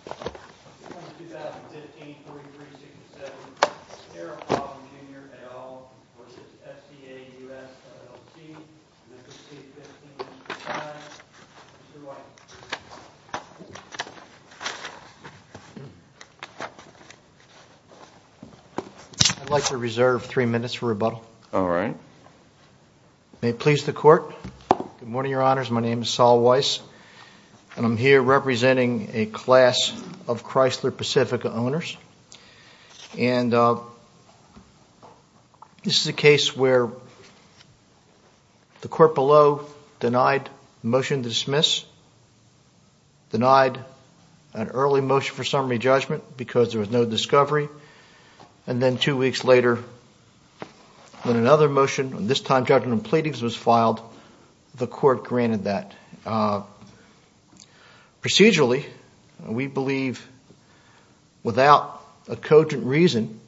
I'd like to reserve three minutes for rebuttal. All right. May it please the court. Good morning, your honors. My name is Sol Weiss and I'm here representing a class of Chrysler Pacifica owners. And this is a case where the court below denied motion to dismiss, denied an early motion for summary judgment because there was no discovery. And then two weeks later, when another motion, this time judgment and pleadings was filed, the court granted that. Procedurally, we believe without a cogent reason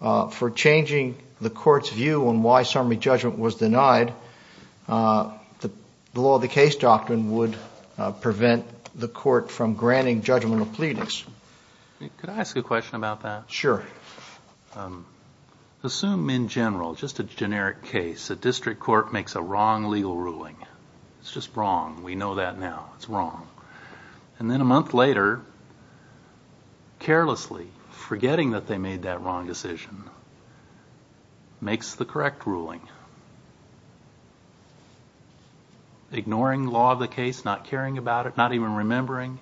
for changing the court's view on why summary judgment was denied, the law of the case doctrine would prevent the court from granting judgmental pleadings. Could I ask a question about that? Sure. Assume in general, just a generic case, a district court makes a wrong legal ruling. It's just wrong. We know that now. It's wrong. And then a month later, carelessly, forgetting that they made that wrong decision, makes the correct ruling, ignoring law of the case, not caring about it, not even remembering.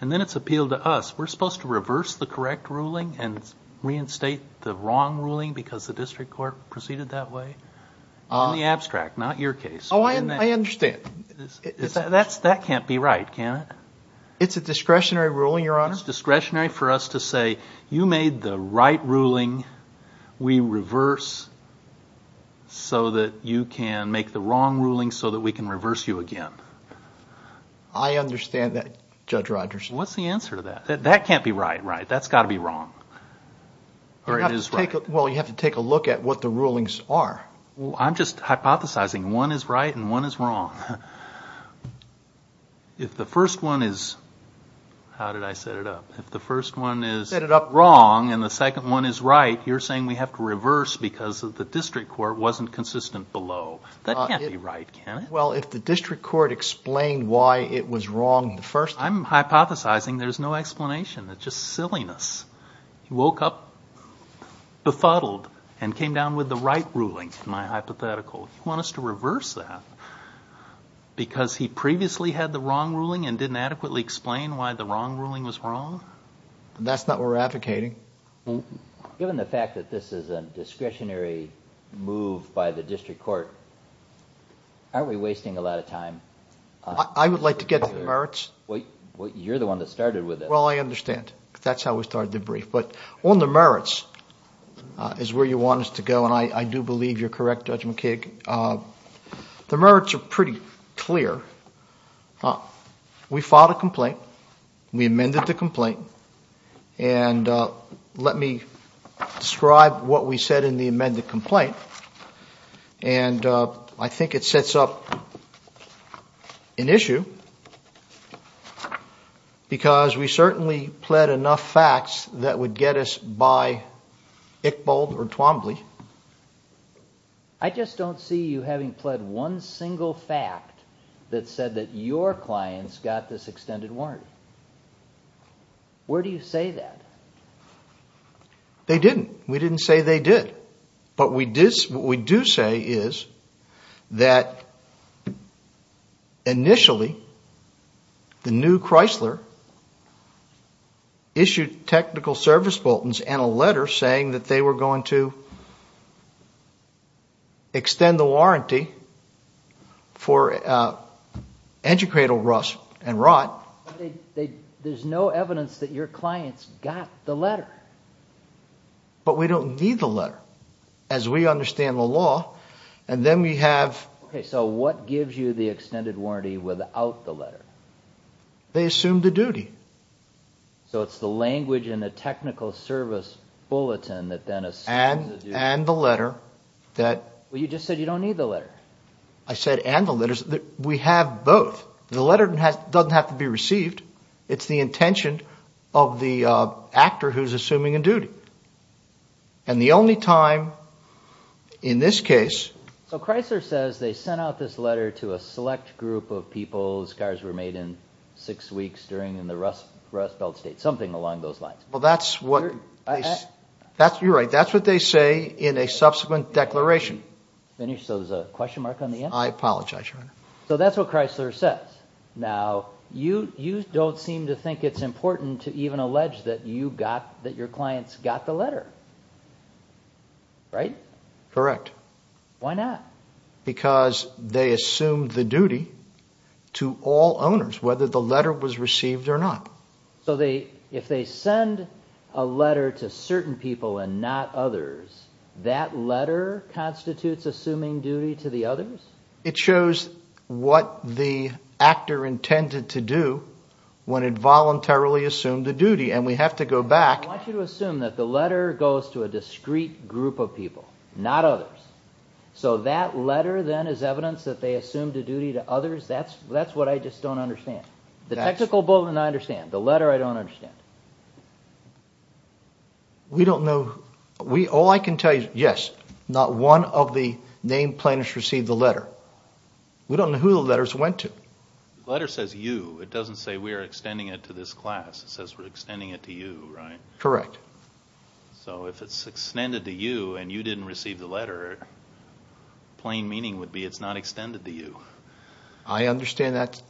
And then it's appealed to us. We're supposed to reverse the correct ruling and reinstate the wrong ruling because the district court proceeded that way? In the abstract, not your case. Oh, I understand. That can't be right, can it? It's a discretionary ruling, Your Honor. It's discretionary for us to say, you made the right ruling. We reverse so that you can make the wrong ruling so that we can reverse you again. I understand that, Judge Rodgers. What's the answer to that? That can't be right, right? That's got to be wrong. Or it is right? Well, you have to take a look at what the rulings are. I'm just hypothesizing. One is right and one is wrong. If the first one is, how did I set it up? If the first one is wrong and the second one is right, you're saying we have to reverse because the district court wasn't consistent below. That can't be right, can it? Well, if the district court explained why it was wrong the first time. I'm hypothesizing there's no explanation. It's just silliness. He woke up befuddled and came down with the right ruling, my hypothetical. You want us to reverse that because he previously had the wrong ruling and didn't adequately explain why the wrong ruling was wrong? That's not what we're advocating. Given the fact that this is a discretionary move by the district court, aren't we wasting a lot of time? I would like to get to the merits. You're the one that started with it. Well, I understand. That's how we started the brief. But on the merits is where you want us to go. I do believe you're correct, Judge McKig. The merits are pretty clear. We filed a complaint. We amended the complaint. Let me describe what we said in the amended complaint. I think it sets up an issue because we certainly pled enough facts that would get us by Iqbal or Twombly. I just don't see you having pled one single fact that said that your clients got this extended warranty. Where do you say that? They didn't. We didn't say they did. What we do say is that initially, the new Chrysler issued technical service bulletins and a letter saying that they were going to extend the warranty for engine cradle rust and rot. There's no evidence that your clients got the letter. But we don't need the letter as we understand the law. Then we have... What gives you the extended warranty without the letter? They assumed the duty. It's the language in the technical service bulletin that then assumes the duty? And the letter. You just said you don't need the letter. I said and the letter. We have both. The letter doesn't have to be received. It's the intention of the actor who's assuming a duty. And the only time in this case... So Chrysler says they sent out this letter to a select group of people. Scars were made in six weeks during the rust belt state. Something along those lines. Well, that's what... You're right. That's what they say in a subsequent declaration. Finish. So there's a question mark on the end? I apologize, Your Honor. So that's what Chrysler says. Now, you don't seem to think it's important to even allege that you got... That your clients got the letter, right? Correct. Why not? Because they assumed the duty to all owners, whether the letter was received or not. So if they send a letter to certain people and not others, that letter constitutes assuming duty to the others? It shows what the actor intended to do when it voluntarily assumed the duty. And we have to go back... I want you to assume that the letter goes to a discrete group of people, not others. So that letter then is evidence that they assumed a duty to others? That's what I just don't understand. The technical bulletin, I understand. The letter, I don't understand. We don't know. All I can tell you, yes, not one of the named plaintiffs received the letter. We don't know who the letters went to. Letter says you. It doesn't say we are extending it to this class. It says we're extending it to you, right? Correct. So if it's extended to you and you didn't receive the letter, plain meaning would be it's not extended to you. I understand that.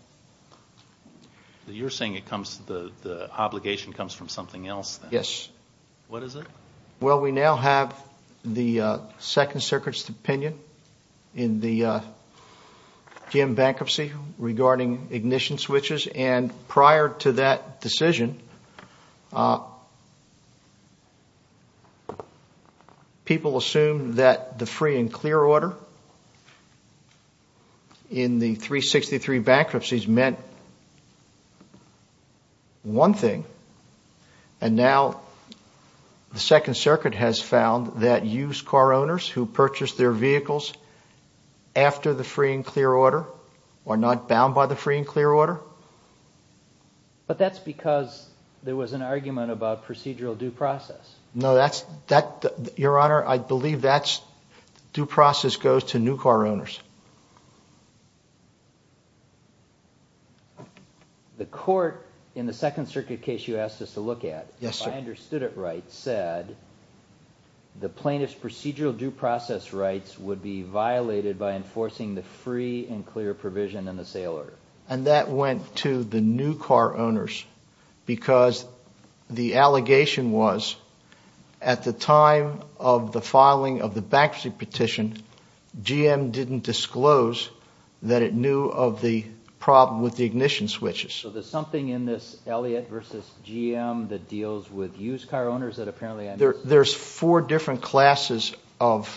You're saying the obligation comes from something else then? Yes. What is it? Well, we now have the Second Circuit's opinion in the Jim bankruptcy regarding ignition switches and prior to that decision, people assumed that the free and clear order in the 363 bankruptcies meant one thing. And now the Second Circuit has found that used car owners who purchased their vehicles after the free and clear order are not bound by the free and clear order. But that's because there was an argument about procedural due process. No, Your Honor, I believe that's due process goes to new car owners. The court in the Second Circuit case you asked us to look at, if I understood it right, said the plaintiff's procedural due process rights would be violated by enforcing the free and clear provision in the sale order. And that went to the new car owners because the allegation was at the time of the filing of the bankruptcy petition, GM didn't disclose that it knew of the problem with the ignition switches. So there's something in this Elliot versus GM that deals with used car owners that apparently... There's four different classes of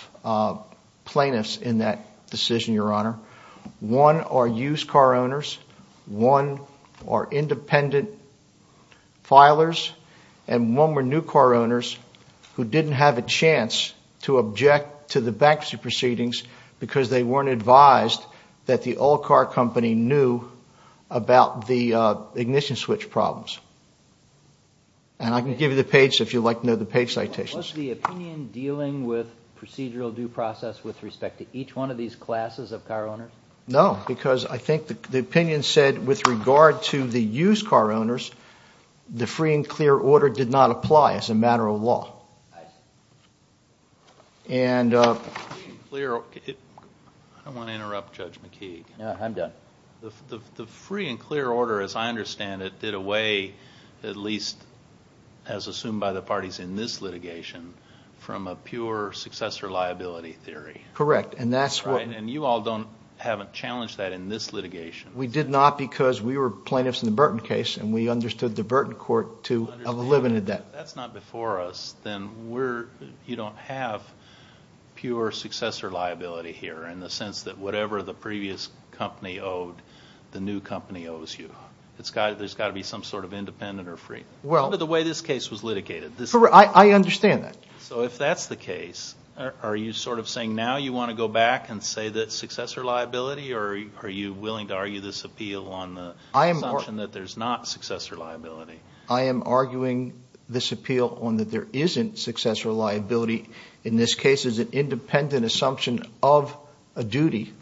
plaintiffs in that decision, Your Honor. One are used car owners, one are independent filers, and one were new car owners who didn't have a chance to object to the bankruptcy proceedings because they weren't advised that the all-car company knew about the ignition switch problems. And I can give you the page if you'd like to know the page citations. Was the opinion dealing with procedural due process with respect to each one of these classes of car owners? No, because I think the opinion said with regard to the used car owners, the free and clear order did not apply as a matter of law. And... I don't want to interrupt Judge McKeague. I'm done. The free and clear order, as I understand it, did away, at least as assumed by the parties in this litigation, from a pure successor liability theory. Correct, and that's what... Right, and you all haven't challenged that in this litigation. We did not because we were plaintiffs in the Burton case and we understood the Burton court to have eliminated that. If that's not before us, then you don't have pure successor liability here in the sense that whatever the previous company owed, the new company owes you. There's got to be some sort of independent or free. Well... Under the way this case was litigated. I understand that. So if that's the case, are you sort of saying now you want to go back and say that's successor liability or are you willing to argue this appeal on the assumption that there's not successor liability? I am arguing this appeal on that there isn't successor liability. In this case, it's an independent assumption of a duty.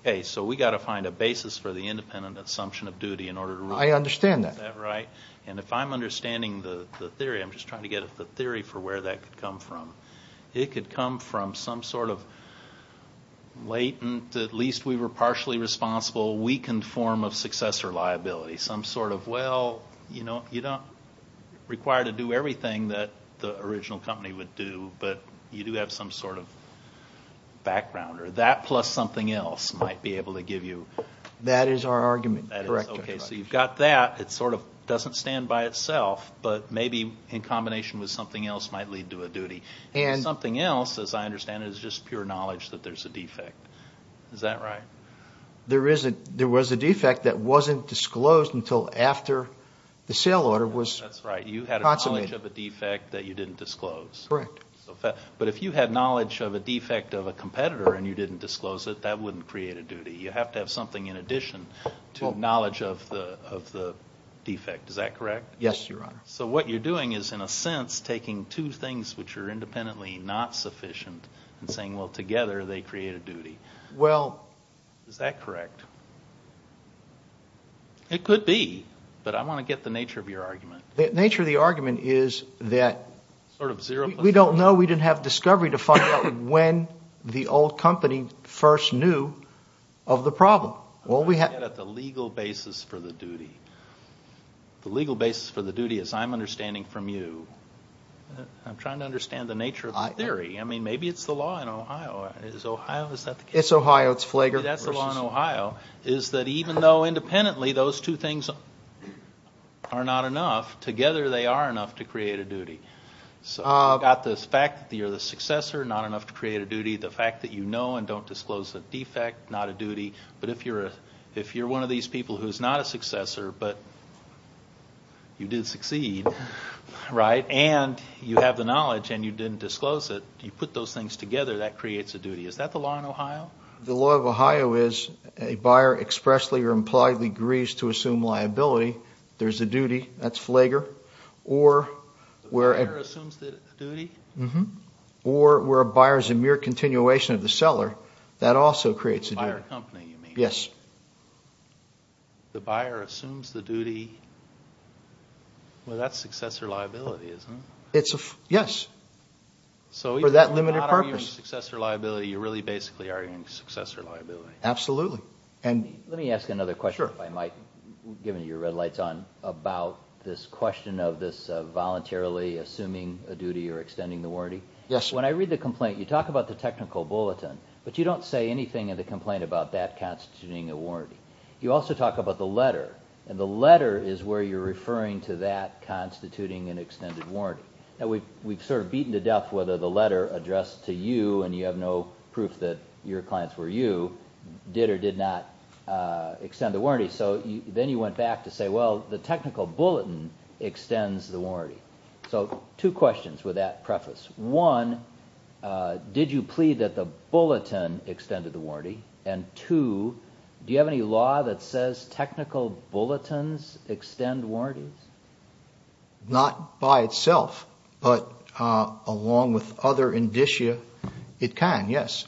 Okay, so we've got to find a basis for the independent assumption of duty in order to... I understand that. Is that right? And if I'm understanding the theory, I'm just trying to get the theory for where that could come from. It could come from some sort of latent, at least we were partially responsible, weakened form of successor liability. Some sort of, well, you don't require to do everything that the original company would do, but you do have some sort of background. That plus something else might be able to give you... That is our argument. Correct. Okay, so you've got that. It sort of doesn't stand by itself, but maybe in combination with something else might lead to a duty. And... Something else, as I understand it, is just pure knowledge that there's a defect. Is that right? There is a... There was a defect that wasn't disclosed until after the sale order was... That's right. You had a knowledge of a defect that you didn't disclose. Correct. But if you had knowledge of a defect of a competitor and you didn't disclose it, that wouldn't create a duty. You have to have something in addition to knowledge of the defect. Is that correct? Yes, Your Honor. So what you're doing is, in a sense, taking two things which are independently not sufficient and saying, well, together they create a duty. Well... Is that correct? It could be, but I want to get the nature of your argument. The nature of the argument is that... Sort of zero point... We don't know. We didn't have discovery to find out when the old company first knew of the problem. All we have... I'm trying to get at the legal basis for the duty. The legal basis for the duty, as I'm understanding from you, I'm trying to understand the nature of the theory. I mean, maybe it's the law in Ohio. Is Ohio... Is that the case? It's Ohio. It's Flagler. Maybe that's the law in Ohio, is that even though independently those two things are not enough, together they are enough to create a duty. So you've got the fact that you're the successor, not enough to create a duty. The fact that you know and don't disclose a defect, not a duty. But if you're one of these people who's not a successor, but you did succeed, right, and you have the knowledge and you didn't disclose it, you put those things together, that creates a duty. Is that the law in Ohio? The law of Ohio is a buyer expressly or impliedly agrees to assume liability. There's a duty. That's Flagler. The buyer assumes the duty? By a buyer company, you mean? Yes. The buyer assumes the duty? Well, that's successor liability, isn't it? For that limited purpose. So you're not arguing successor liability, you're really basically arguing successor liability. Absolutely. Let me ask another question, if I might, given your red lights on, about this question of this voluntarily assuming a duty or extending the warranty. Yes, sir. When I read the complaint, you talk about the technical bulletin, but you don't say anything in the complaint about that constituting a warranty. You also talk about the letter, and the letter is where you're referring to that constituting an extended warranty. We've sort of beaten to death whether the letter addressed to you, and you have no proof that your clients were you, did or did not extend the warranty. So then you went back to say, well, the technical bulletin extends the warranty. So two questions with that preface. One, did you plead that the bulletin extended the warranty? And two, do you have any law that says technical bulletins extend warranties? Not by itself, but along with other indicia, it can, yes.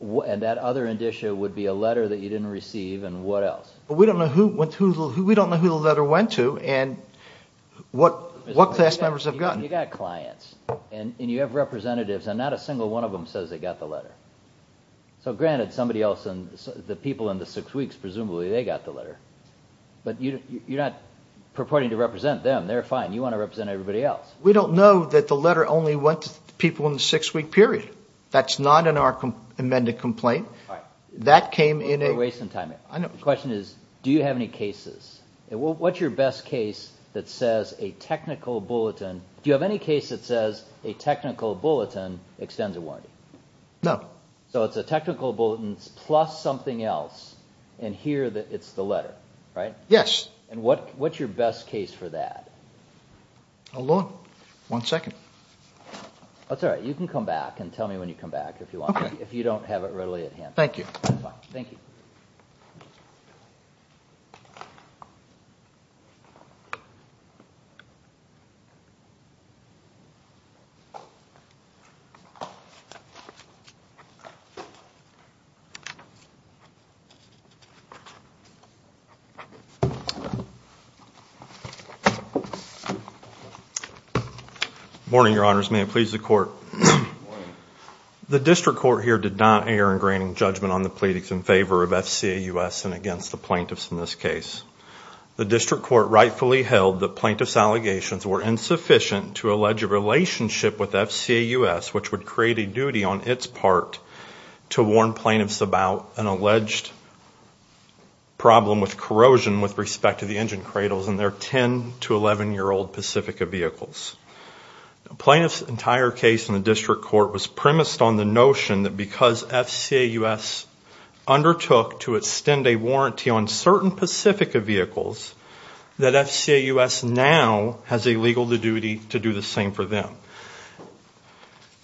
And that other indicia would be a letter that you didn't receive, and what else? We don't know who the letter went to, and what class members have gotten. You've got clients, and you have representatives, and not a single one of them says they got the letter. So granted, somebody else, the people in the six weeks, presumably they got the letter. But you're not purporting to represent them. They're fine. You want to represent everybody else. We don't know that the letter only went to people in the six-week period. That's not in our amended complaint. That came in a... We're wasting time here. The question is, do you have any cases? What's your best case that says a technical bulletin? Do you have any case that says a technical bulletin extends a warranty? No. So it's a technical bulletin plus something else, and here it's the letter, right? Yes. And what's your best case for that? Alone. One second. That's all right. You can come back and tell me when you come back if you want to, if you don't have it readily at hand. Thank you. Thank you. Thank you. Good morning, Your Honors. May it please the Court. Good morning. The district court here did not err in granting judgment on the pleadings in favor of FCAUS and against the plaintiffs in this case. The district court rightfully held that plaintiff's allegations were insufficient to allege a relationship with FCAUS, which would create a duty on its part to warn plaintiffs about an alleged problem with corrosion with respect to the engine cradles in their 10- to 11-year-old Pacifica vehicles. The plaintiff's entire case in the district court was premised on the notion that because FCAUS undertook to extend a warranty on certain Pacifica vehicles, that FCAUS now has a legal duty to do the same for them.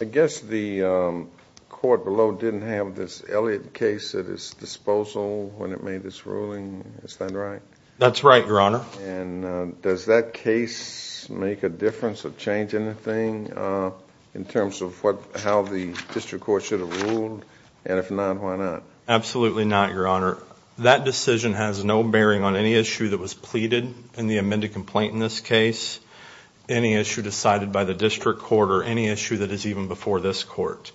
I guess the court below didn't have this Elliott case at its disposal when it made this ruling. Is that right? That's right, Your Honor. And does that case make a difference or change anything in terms of how the district court should have ruled? And if not, why not? Absolutely not, Your Honor. That decision has no bearing on any issue that was pleaded in the amended complaint in this case, any issue decided by the district court, or any issue that is even before this court.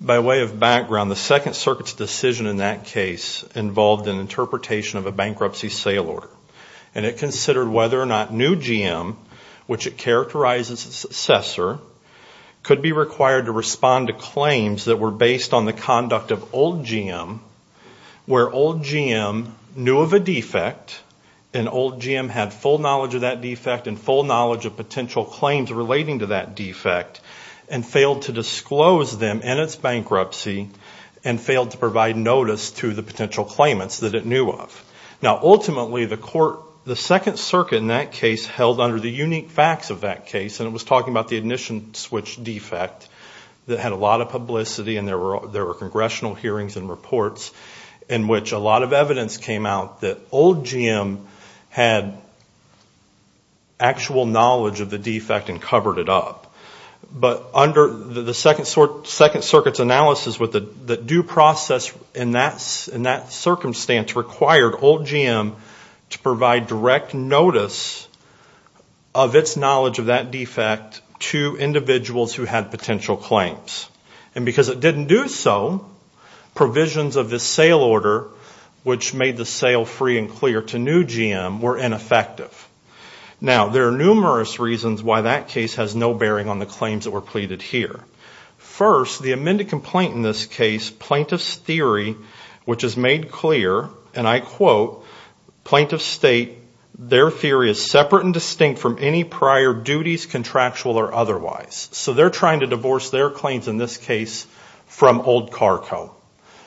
By way of background, the Second Circuit's decision in that case involved an interpretation of a bankruptcy sale order, and it considered whether or not new GM, which it characterized as its successor, could be required to respond to claims that were based on the conduct of old GM, where old GM knew of a defect, and old GM had full knowledge of that defect and full knowledge of potential claims relating to that defect, and failed to disclose them in its bankruptcy and failed to provide notice to the potential claimants that it knew of. Now, ultimately, the Second Circuit in that case held under the unique facts of that case, and it was talking about the ignition switch defect that had a lot of publicity and there were congressional hearings and reports in which a lot of evidence came out that old GM had actual knowledge of the defect and covered it up. But under the Second Circuit's analysis, the due process in that circumstance required old GM to provide direct notice of its knowledge of that defect to individuals who had potential claims. And because it didn't do so, provisions of this sale order, which made the sale free and clear to new GM, were ineffective. Now, there are numerous reasons why that case has no bearing on the claims that were pleaded here. First, the amended complaint in this case, Plaintiff's Theory, which is made clear, and I quote, Plaintiff's State, their theory is separate and distinct from any prior duties, contractual or otherwise. So they're trying to divorce their claims in this case from Old Car Co.,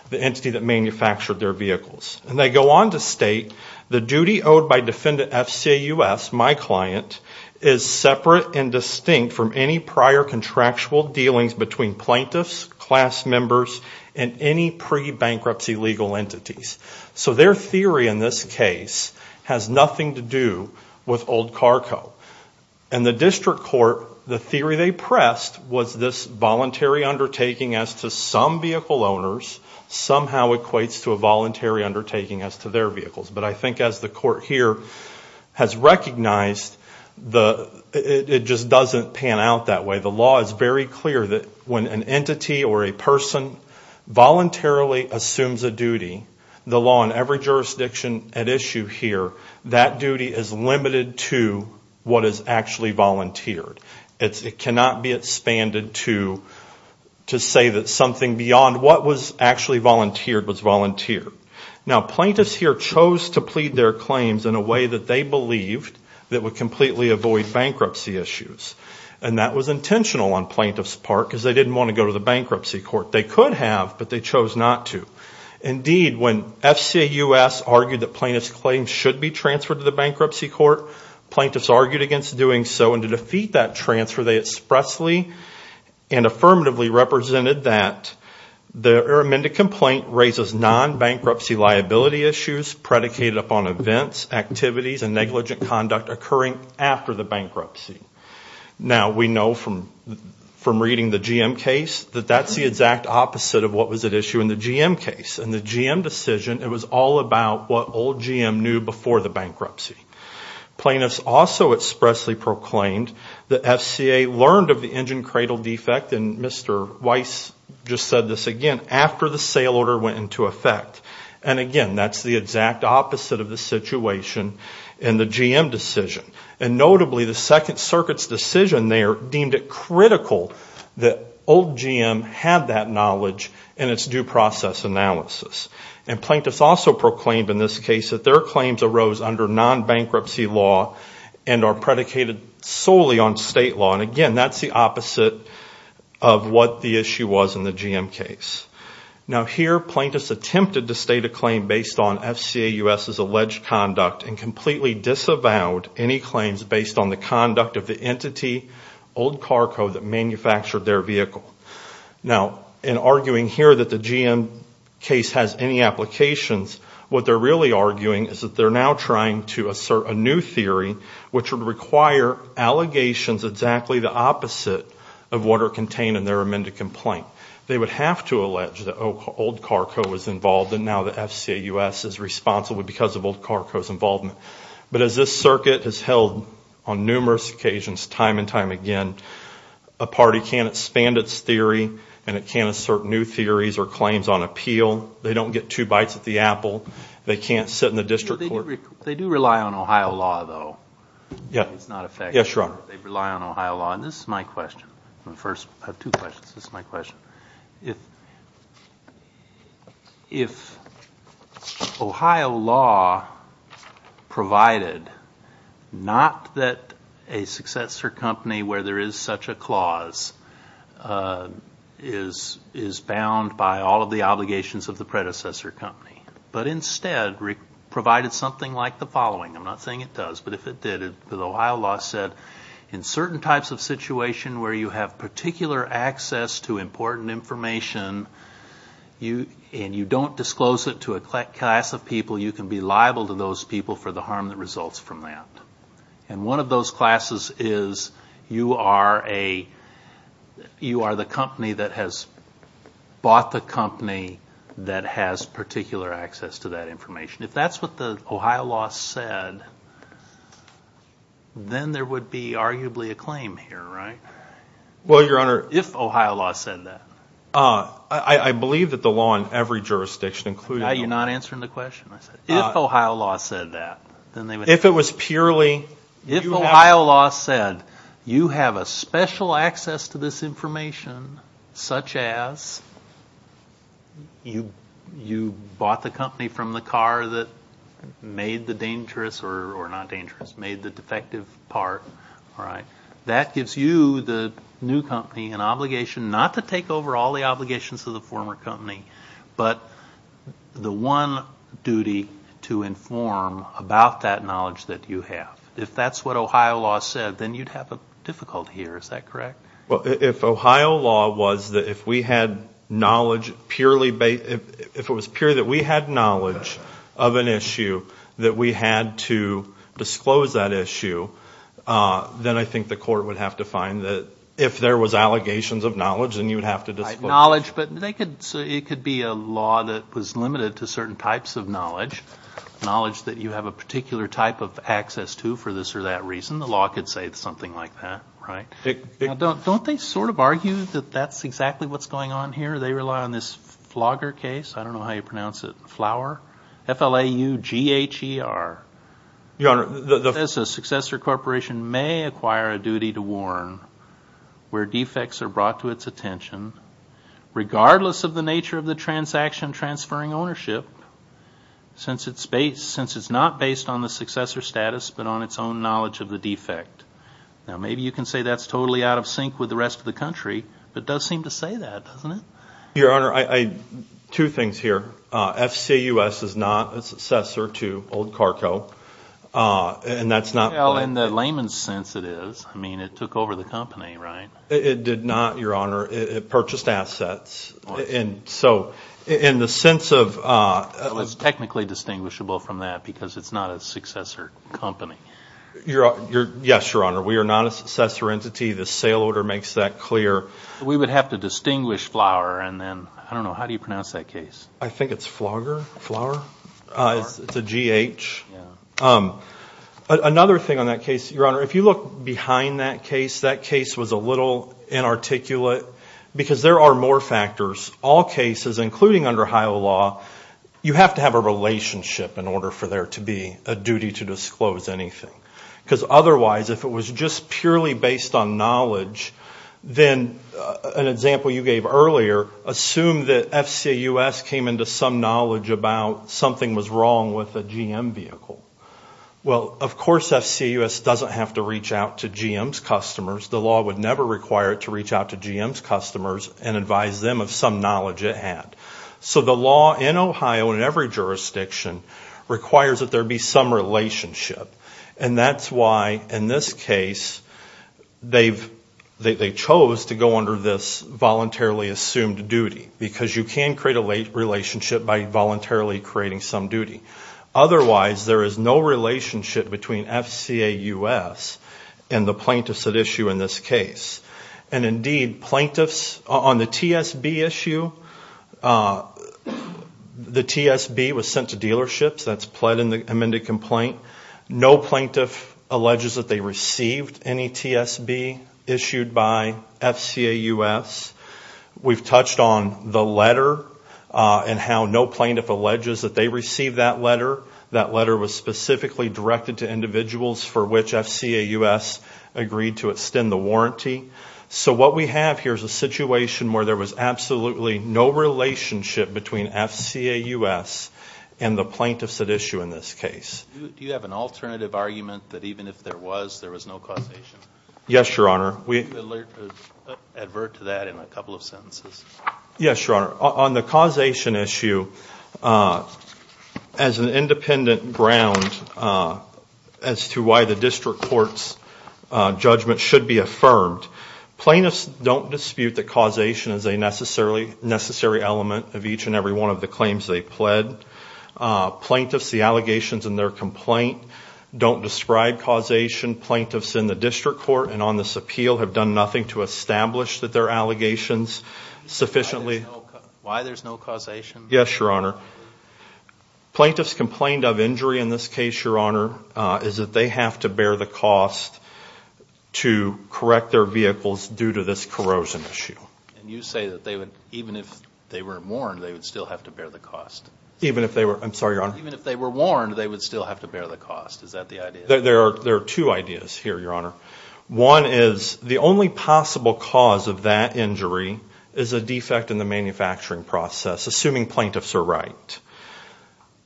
the entity that manufactured their vehicles. And they go on to state, the duty owed by Defendant F.C.A.U.S., my client, is separate and distinct from any prior contractual dealings between plaintiffs, class members, and any pre-bankruptcy legal entities. So their theory in this case has nothing to do with Old Car Co. And the district court, the theory they pressed was this voluntary undertaking as to some vehicle owners somehow equates to a voluntary undertaking as to their vehicles. But I think as the court here has recognized, it just doesn't pan out that way. The law is very clear that when an entity or a person voluntarily assumes a duty, the law in every jurisdiction at issue here, that duty is limited to what is actually volunteered. It cannot be expanded to say that something beyond what was actually volunteered was volunteered. Now plaintiffs here chose to plead their claims in a way that they believed that would completely avoid bankruptcy issues. And that was intentional on plaintiffs' part because they didn't want to go to the bankruptcy court. They could have, but they chose not to. Indeed, when F.C.A.U.S. argued that plaintiffs' claims should be transferred to the bankruptcy court, plaintiffs argued against doing so. And to defeat that transfer, they expressly and affirmatively represented that their amended complaint raises non-bankruptcy liability issues predicated upon events, activities, and negligent conduct occurring after the bankruptcy. Now we know from reading the GM case that that's the exact opposite of what was at issue in the GM case. In the GM decision, it was all about what old GM knew before the bankruptcy. Plaintiffs also expressly proclaimed that F.C.A.U.S. learned of the engine cradle defect, and Mr. Weiss just said this again, after the sale order went into effect. And again, that's the exact opposite of the situation in the GM decision. And notably, the Second Circuit's decision there deemed it critical that old GM had that knowledge in its due process analysis. And plaintiffs also proclaimed in this case that their claims arose under non-bankruptcy law and are predicated solely on state law. And again, that's the opposite of what the issue was in the GM case. Now here, plaintiffs attempted to state a claim based on F.C.A.U.S.'s alleged conduct and completely disavowed any claims based on the conduct of the entity, Old Carco, that manufactured their vehicle. Now, in arguing here that the GM case has any applications, what they're really arguing is that they're now trying to assert a new theory which would require allegations exactly the opposite of what are contained in their amended complaint. They would have to allege that Old Carco was involved and now that F.C.A.U.S. is responsible because of Old Carco's involvement. But as this circuit has held on numerous occasions time and time again, a party can't expand its theory and it can't assert new theories or claims on appeal. They don't get two bites at the apple. They can't sit in the district court. They do rely on Ohio law, though. Yeah. It's not effective. Yes, Your Honor. They rely on Ohio law. And this is my question. First, I have two questions. This is my question. If Ohio law provided not that a successor company where there is such a clause is bound by all of the obligations of the predecessor company, but instead provided something like the following. I'm not saying it does, but if it did, in certain types of situation where you have particular access to important information and you don't disclose it to a class of people, you can be liable to those people for the harm that results from that. And one of those classes is you are the company that has bought the company that has particular access to that information. If that's what the Ohio law said, then there would be arguably a claim here, right? Well, Your Honor. If Ohio law said that. I believe that the law in every jurisdiction, including Ohio law. Now you're not answering the question. If Ohio law said that, then they would. If it was purely. If Ohio law said you have a special access to this information, such as you bought the company from the car that made the dangerous, or not dangerous, made the defective part, that gives you, the new company, an obligation not to take over all the obligations of the former company, but the one duty to inform about that knowledge that you have. If that's what Ohio law said, then you'd have a difficulty here. Is that correct? Well, if Ohio law was that if we had knowledge purely based. If it was purely that we had knowledge of an issue, that we had to disclose that issue, then I think the court would have to find that if there was allegations of knowledge, then you would have to disclose. Knowledge, but it could be a law that was limited to certain types of knowledge. Knowledge that you have a particular type of access to for this or that reason. The law could say something like that, right? Don't they sort of argue that that's exactly what's going on here? They rely on this Flaugher case. I don't know how you pronounce it. Flaugher. F-L-A-U-G-H-E-R. The successor corporation may acquire a duty to warn where defects are brought to its attention, regardless of the nature of the transaction transferring ownership, since it's not based on the successor status, but on its own knowledge of the defect. Now, maybe you can say that's totally out of sync with the rest of the country, but it does seem to say that, doesn't it? Your Honor, two things here. F-C-U-S is not a successor to Old Carco, and that's not. Well, in the layman's sense it is. I mean, it took over the company, right? It did not, Your Honor. It purchased assets, and so in the sense of... Well, it's technically distinguishable from that because it's not a successor company. Yes, Your Honor. We are not a successor entity. The sale order makes that clear. We would have to distinguish Flaugher, and then, I don't know, how do you pronounce that case? I think it's Flaugher. Flaugher? It's a G-H. Another thing on that case, Your Honor, if you look behind that case, that case was a little inarticulate because there are more factors. All cases, including under HIO law, you have to have a relationship in order for there to be a duty to disclose anything because otherwise if it was just purely based on knowledge, then an example you gave earlier, assume that F-C-A-U-S came into some knowledge about something was wrong with a GM vehicle. Well, of course F-C-A-U-S doesn't have to reach out to GM's customers. The law would never require it to reach out to GM's customers and advise them of some knowledge it had. So the law in Ohio in every jurisdiction requires that there be some relationship, and that's why in this case they chose to go under this voluntarily assumed duty because you can create a relationship by voluntarily creating some duty. Otherwise, there is no relationship between F-C-A-U-S and the plaintiffs at issue in this case. And indeed, plaintiffs on the T-S-B issue, the T-S-B was sent to dealerships. That's pled in the amended complaint. No plaintiff alleges that they received any T-S-B issued by F-C-A-U-S. We've touched on the letter and how no plaintiff alleges that they received that letter. That letter was specifically directed to individuals for which F-C-A-U-S agreed to extend the warranty. So what we have here is a situation where there was absolutely no relationship between F-C-A-U-S and the plaintiffs at issue in this case. Do you have an alternative argument that even if there was, there was no causation? Yes, Your Honor. Can you advert to that in a couple of sentences? Yes, Your Honor. On the causation issue, as an independent ground as to why the district court's judgment should be affirmed, plaintiffs don't dispute that causation is a necessary element of each and every one of the claims they pled. Plaintiffs, the allegations in their complaint don't describe causation. Plaintiffs in the district court and on this appeal have done nothing to establish that their allegations sufficiently... Why there's no causation? Yes, Your Honor. Plaintiffs complained of injury in this case, Your Honor, is that they have to bear the cost to correct their vehicles due to this corrosion issue. And you say that they would, even if they were warned, they would still have to bear the cost. Even if they were, I'm sorry, Your Honor. Even if they were warned, they would still have to bear the cost. Is that the idea? There are two ideas here, Your Honor. One is the only possible cause of that injury is a defect in the manufacturing process, assuming plaintiffs are right.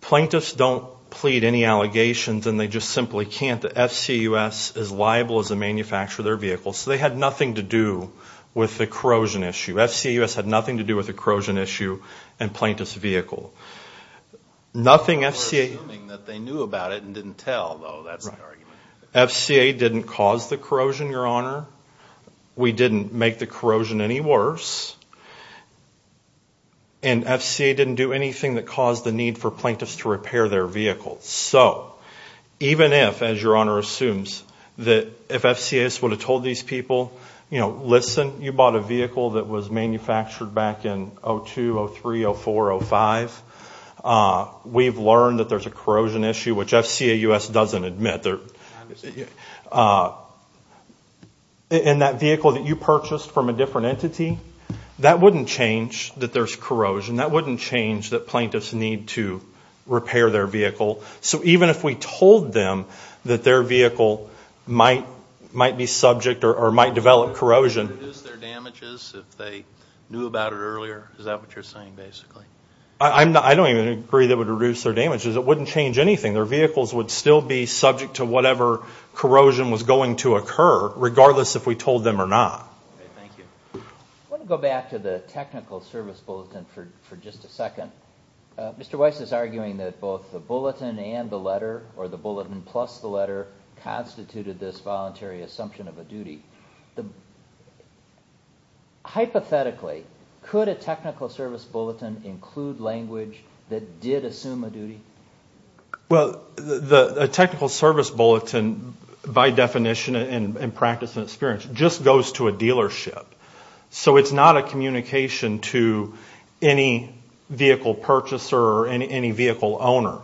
Plaintiffs don't plead any allegations and they just simply can't. The FCAUS is liable as a manufacturer of their vehicle, so they had nothing to do with the corrosion issue. FCAUS had nothing to do with the corrosion issue and plaintiff's vehicle. We're assuming that they knew about it and didn't tell, though. That's the argument. FCA didn't cause the corrosion, Your Honor. We didn't make the corrosion any worse. And FCA didn't do anything that caused the need for plaintiffs to repair their vehicle. So, even if, as Your Honor assumes, that if FCAUS would have told these people, you know, listen, you bought a vehicle that was manufactured back in 2002, 2003, 2004, 2005. We've learned that there's a corrosion issue, which FCAUS doesn't admit. And that vehicle that you purchased from a different entity, that wouldn't change that there's corrosion. That wouldn't change that plaintiffs need to repair their vehicle. So, even if we told them that their vehicle might be subject or might develop corrosion. Would it reduce their damages if they knew about it earlier? Is that what you're saying, basically? I don't even agree that it would reduce their damages. It wouldn't change anything. Their vehicles would still be subject to whatever corrosion was going to occur, regardless if we told them or not. Thank you. Mr. Weiss is arguing that both the bulletin and the letter, or the bulletin plus the letter, constituted this voluntary assumption of a duty. Hypothetically, could a technical service bulletin include language that did assume a duty? Well, a technical service bulletin, by definition and practice and experience, just goes to a dealership. So, it's not a communication to any vehicle purchaser or any vehicle owner.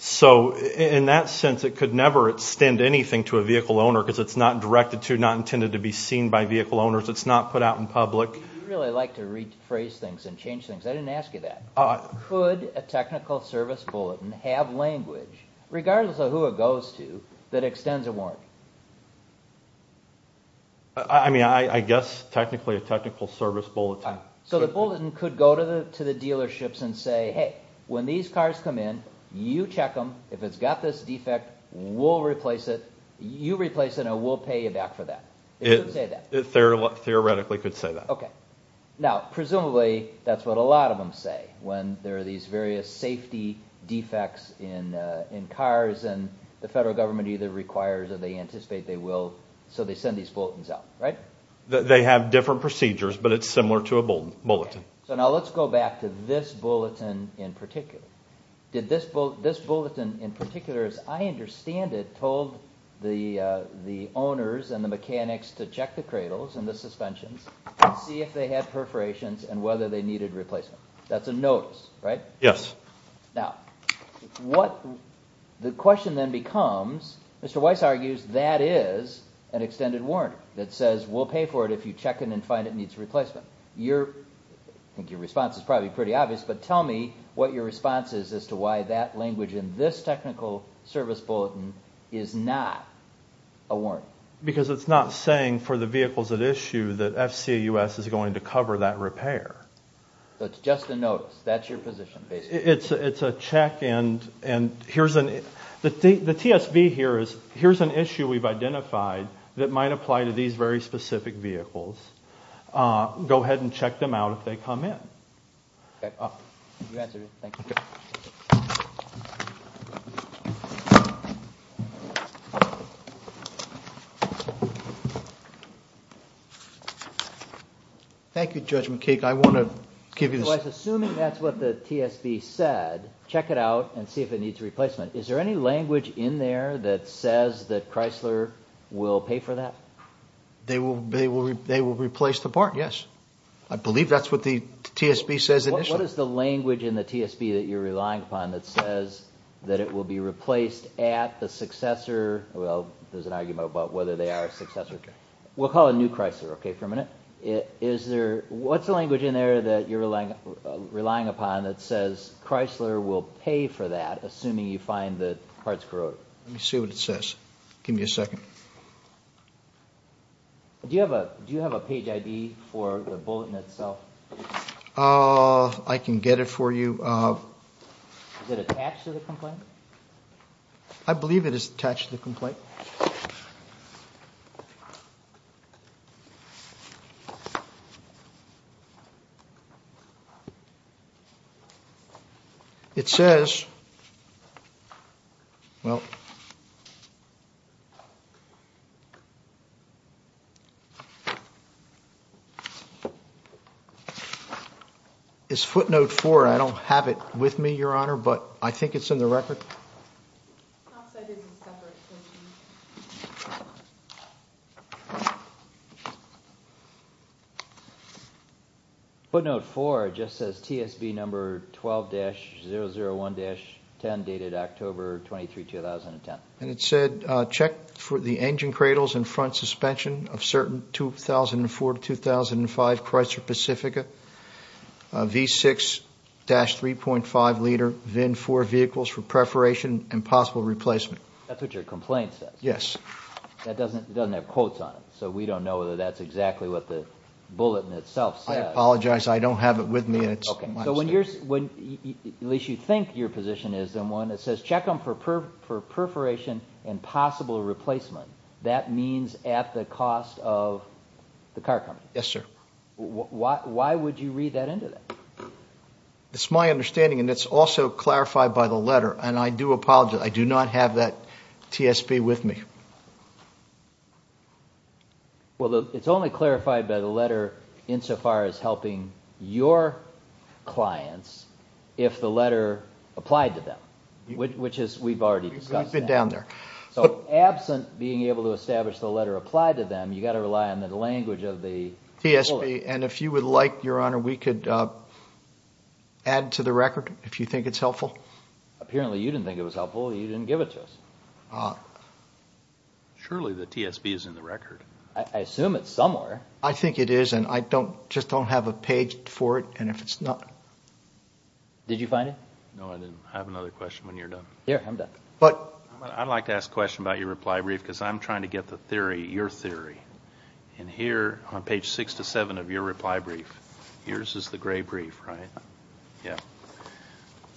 So, in that sense, it could never extend anything to a vehicle owner because it's not directed to, not intended to be seen by vehicle owners. It's not put out in public. You really like to rephrase things and change things. I didn't ask you that. Could a technical service bulletin have language, regardless of who it goes to, that extends a warranty? I mean, I guess, technically, a technical service bulletin. So, the bulletin could go to the dealerships and say, hey, when these cars come in, you check them. If it's got this defect, we'll replace it. You replace it and we'll pay you back for that. It could say that. It theoretically could say that. Okay. Now, presumably, that's what a lot of them say when there are these various safety defects in cars and the federal government either requires or they anticipate they will. So, they send these bulletins out, right? They have different procedures, but it's similar to a bulletin. So, now, let's go back to this bulletin in particular. This bulletin, in particular, as I understand it, told the owners and the mechanics to check the cradles and the suspensions and see if they had perforations and whether they needed replacement. That's a notice, right? Yes. Okay. Now, what the question then becomes, Mr. Weiss argues that is an extended warrant that says we'll pay for it if you check it and find it needs replacement. I think your response is probably pretty obvious, but tell me what your response is as to why that language in this technical service bulletin is not a warrant. Because it's not saying for the vehicles at issue that FCAUS is going to cover that repair. So, it's just a notice. That's your position, basically. It's a check, and here's an issue we've identified that might apply to these very specific vehicles. Go ahead and check them out if they come in. Okay. You answered it. Thank you. Thank you, Judge McKeek. Assuming that's what the TSB said, check it out and see if it needs replacement. Is there any language in there that says that Chrysler will pay for that? They will replace the part, yes. I believe that's what the TSB says initially. What is the language in the TSB that you're relying upon that says that it will be replaced at the successor? Well, there's an argument about whether they are a successor. What's the language in there that you're relying upon that says Chrysler will pay for that, assuming you find the parts corroded? Let me see what it says. Give me a second. Do you have a page ID for the bulletin itself? I can get it for you. Is it attached to the complaint? I believe it is attached to the complaint. Okay. It says... Well... It's footnote four. I don't have it with me, Your Honor, but I think it's in the record. It's not set as a separate issue. Footnote four just says TSB number 12-001-10, dated October 23, 2010. And it said, check for the engine cradles and front suspension of certain 2004-2005 Chrysler Pacifica V6-3.5 liter VIN 4 vehicles for preparation and possible replacement. That's what your complaint says? Yes. That doesn't have quotes on it, so we don't know whether that's exactly what the bulletin itself says. I apologize. I don't have it with me. Okay. So when you're... At least you think your position is in one that says, check them for perforation and possible replacement. That means at the cost of the car company. Yes, sir. Why would you read that into that? It's my understanding, and it's also clarified by the letter, and I do apologize. I do not have that TSB with me. Well, it's only clarified by the letter insofar as helping your clients if the letter applied to them, which we've already discussed. We've been down there. So absent being able to establish the letter applied to them, you've got to rely on the language of the bulletin. TSB. And if you would like, Your Honor, we could add to the record if you think it's helpful. Apparently you didn't think it was helpful. You didn't give it to us. Surely the TSB is in the record. I assume it's somewhere. I think it is, and I just don't have a page for it, and if it's not... Did you find it? No, I didn't. I have another question when you're done. Here, I'm done. I'd like to ask a question about your reply brief, because I'm trying to get the theory, your theory. And here, on page 6 to 7 of your reply brief, yours is the gray brief, right? Yeah. It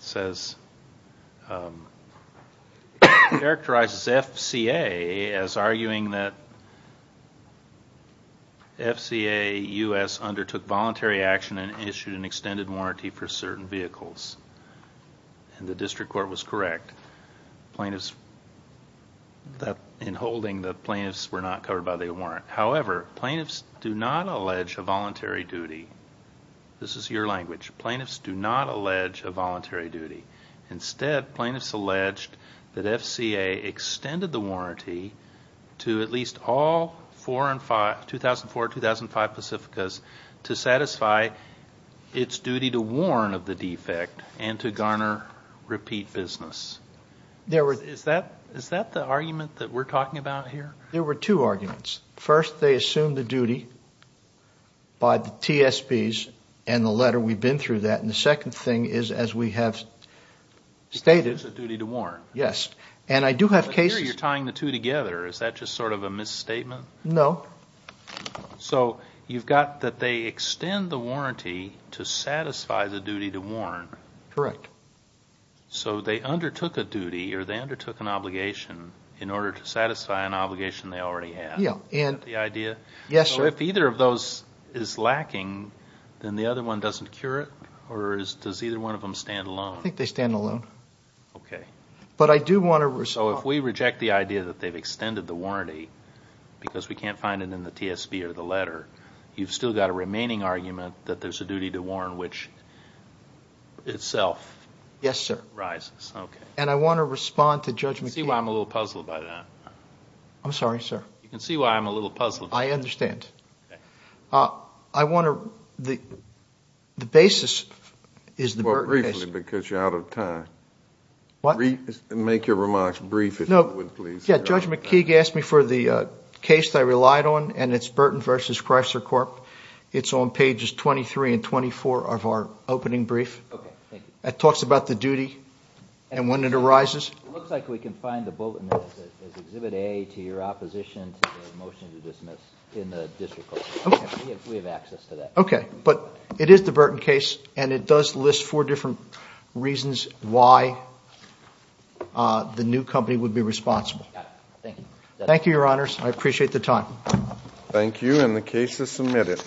says, characterizes FCA as arguing that FCA U.S. undertook voluntary action and issued an extended warranty for certain vehicles. And the district court was correct. Plaintiffs, in holding, the plaintiffs were not covered by the warrant. However, plaintiffs do not allege a voluntary duty. This is your language. Plaintiffs do not allege a voluntary duty. Instead, plaintiffs alleged that FCA extended the warranty to at least all 2004-2005 Pacificas to satisfy its duty to warn of the defect and to garner repeat business. Is that the argument that we're talking about here? There were two arguments. First, they assumed the duty by the TSBs and the letter. We've been through that. And the second thing is, as we have stated— It's a duty to warn. Yes. And I do have cases— Here, you're tying the two together. Is that just sort of a misstatement? No. So you've got that they extend the warranty to satisfy the duty to warn. Correct. So they undertook a duty, or they undertook an obligation, in order to satisfy an obligation they already had. Is that the idea? Yes, sir. So if either of those is lacking, then the other one doesn't cure it? Or does either one of them stand alone? I think they stand alone. Okay. But I do want to— So if we reject the idea that they've extended the warranty because we can't find it in the TSB or the letter, you've still got a remaining argument that there's a duty to warn, which itself— Yes, sir. —rises. Okay. And I want to respond to Judge McCabe— See why I'm a little puzzled by that? I'm sorry, sir. You can see why I'm a little puzzled. I understand. Okay. I want to—the basis is the— Well, briefly, because you're out of time. What? Make your remarks brief, if you would, please. No. Yeah, Judge McKeague asked me for the case I relied on, and it's Burton v. Chrysler Corp. It's on pages 23 and 24 of our opening brief. Okay. Thank you. It talks about the duty and when it arises. It looks like we can find the bulletin as Exhibit A to your opposition to the motion to dismiss in the district court. Okay. We have access to that. Okay. But it is the Burton case, and it does list four different reasons why the new company would be responsible. Got it. Thank you. Thank you, Your Honors. I appreciate the time. Thank you, and the case is submitted.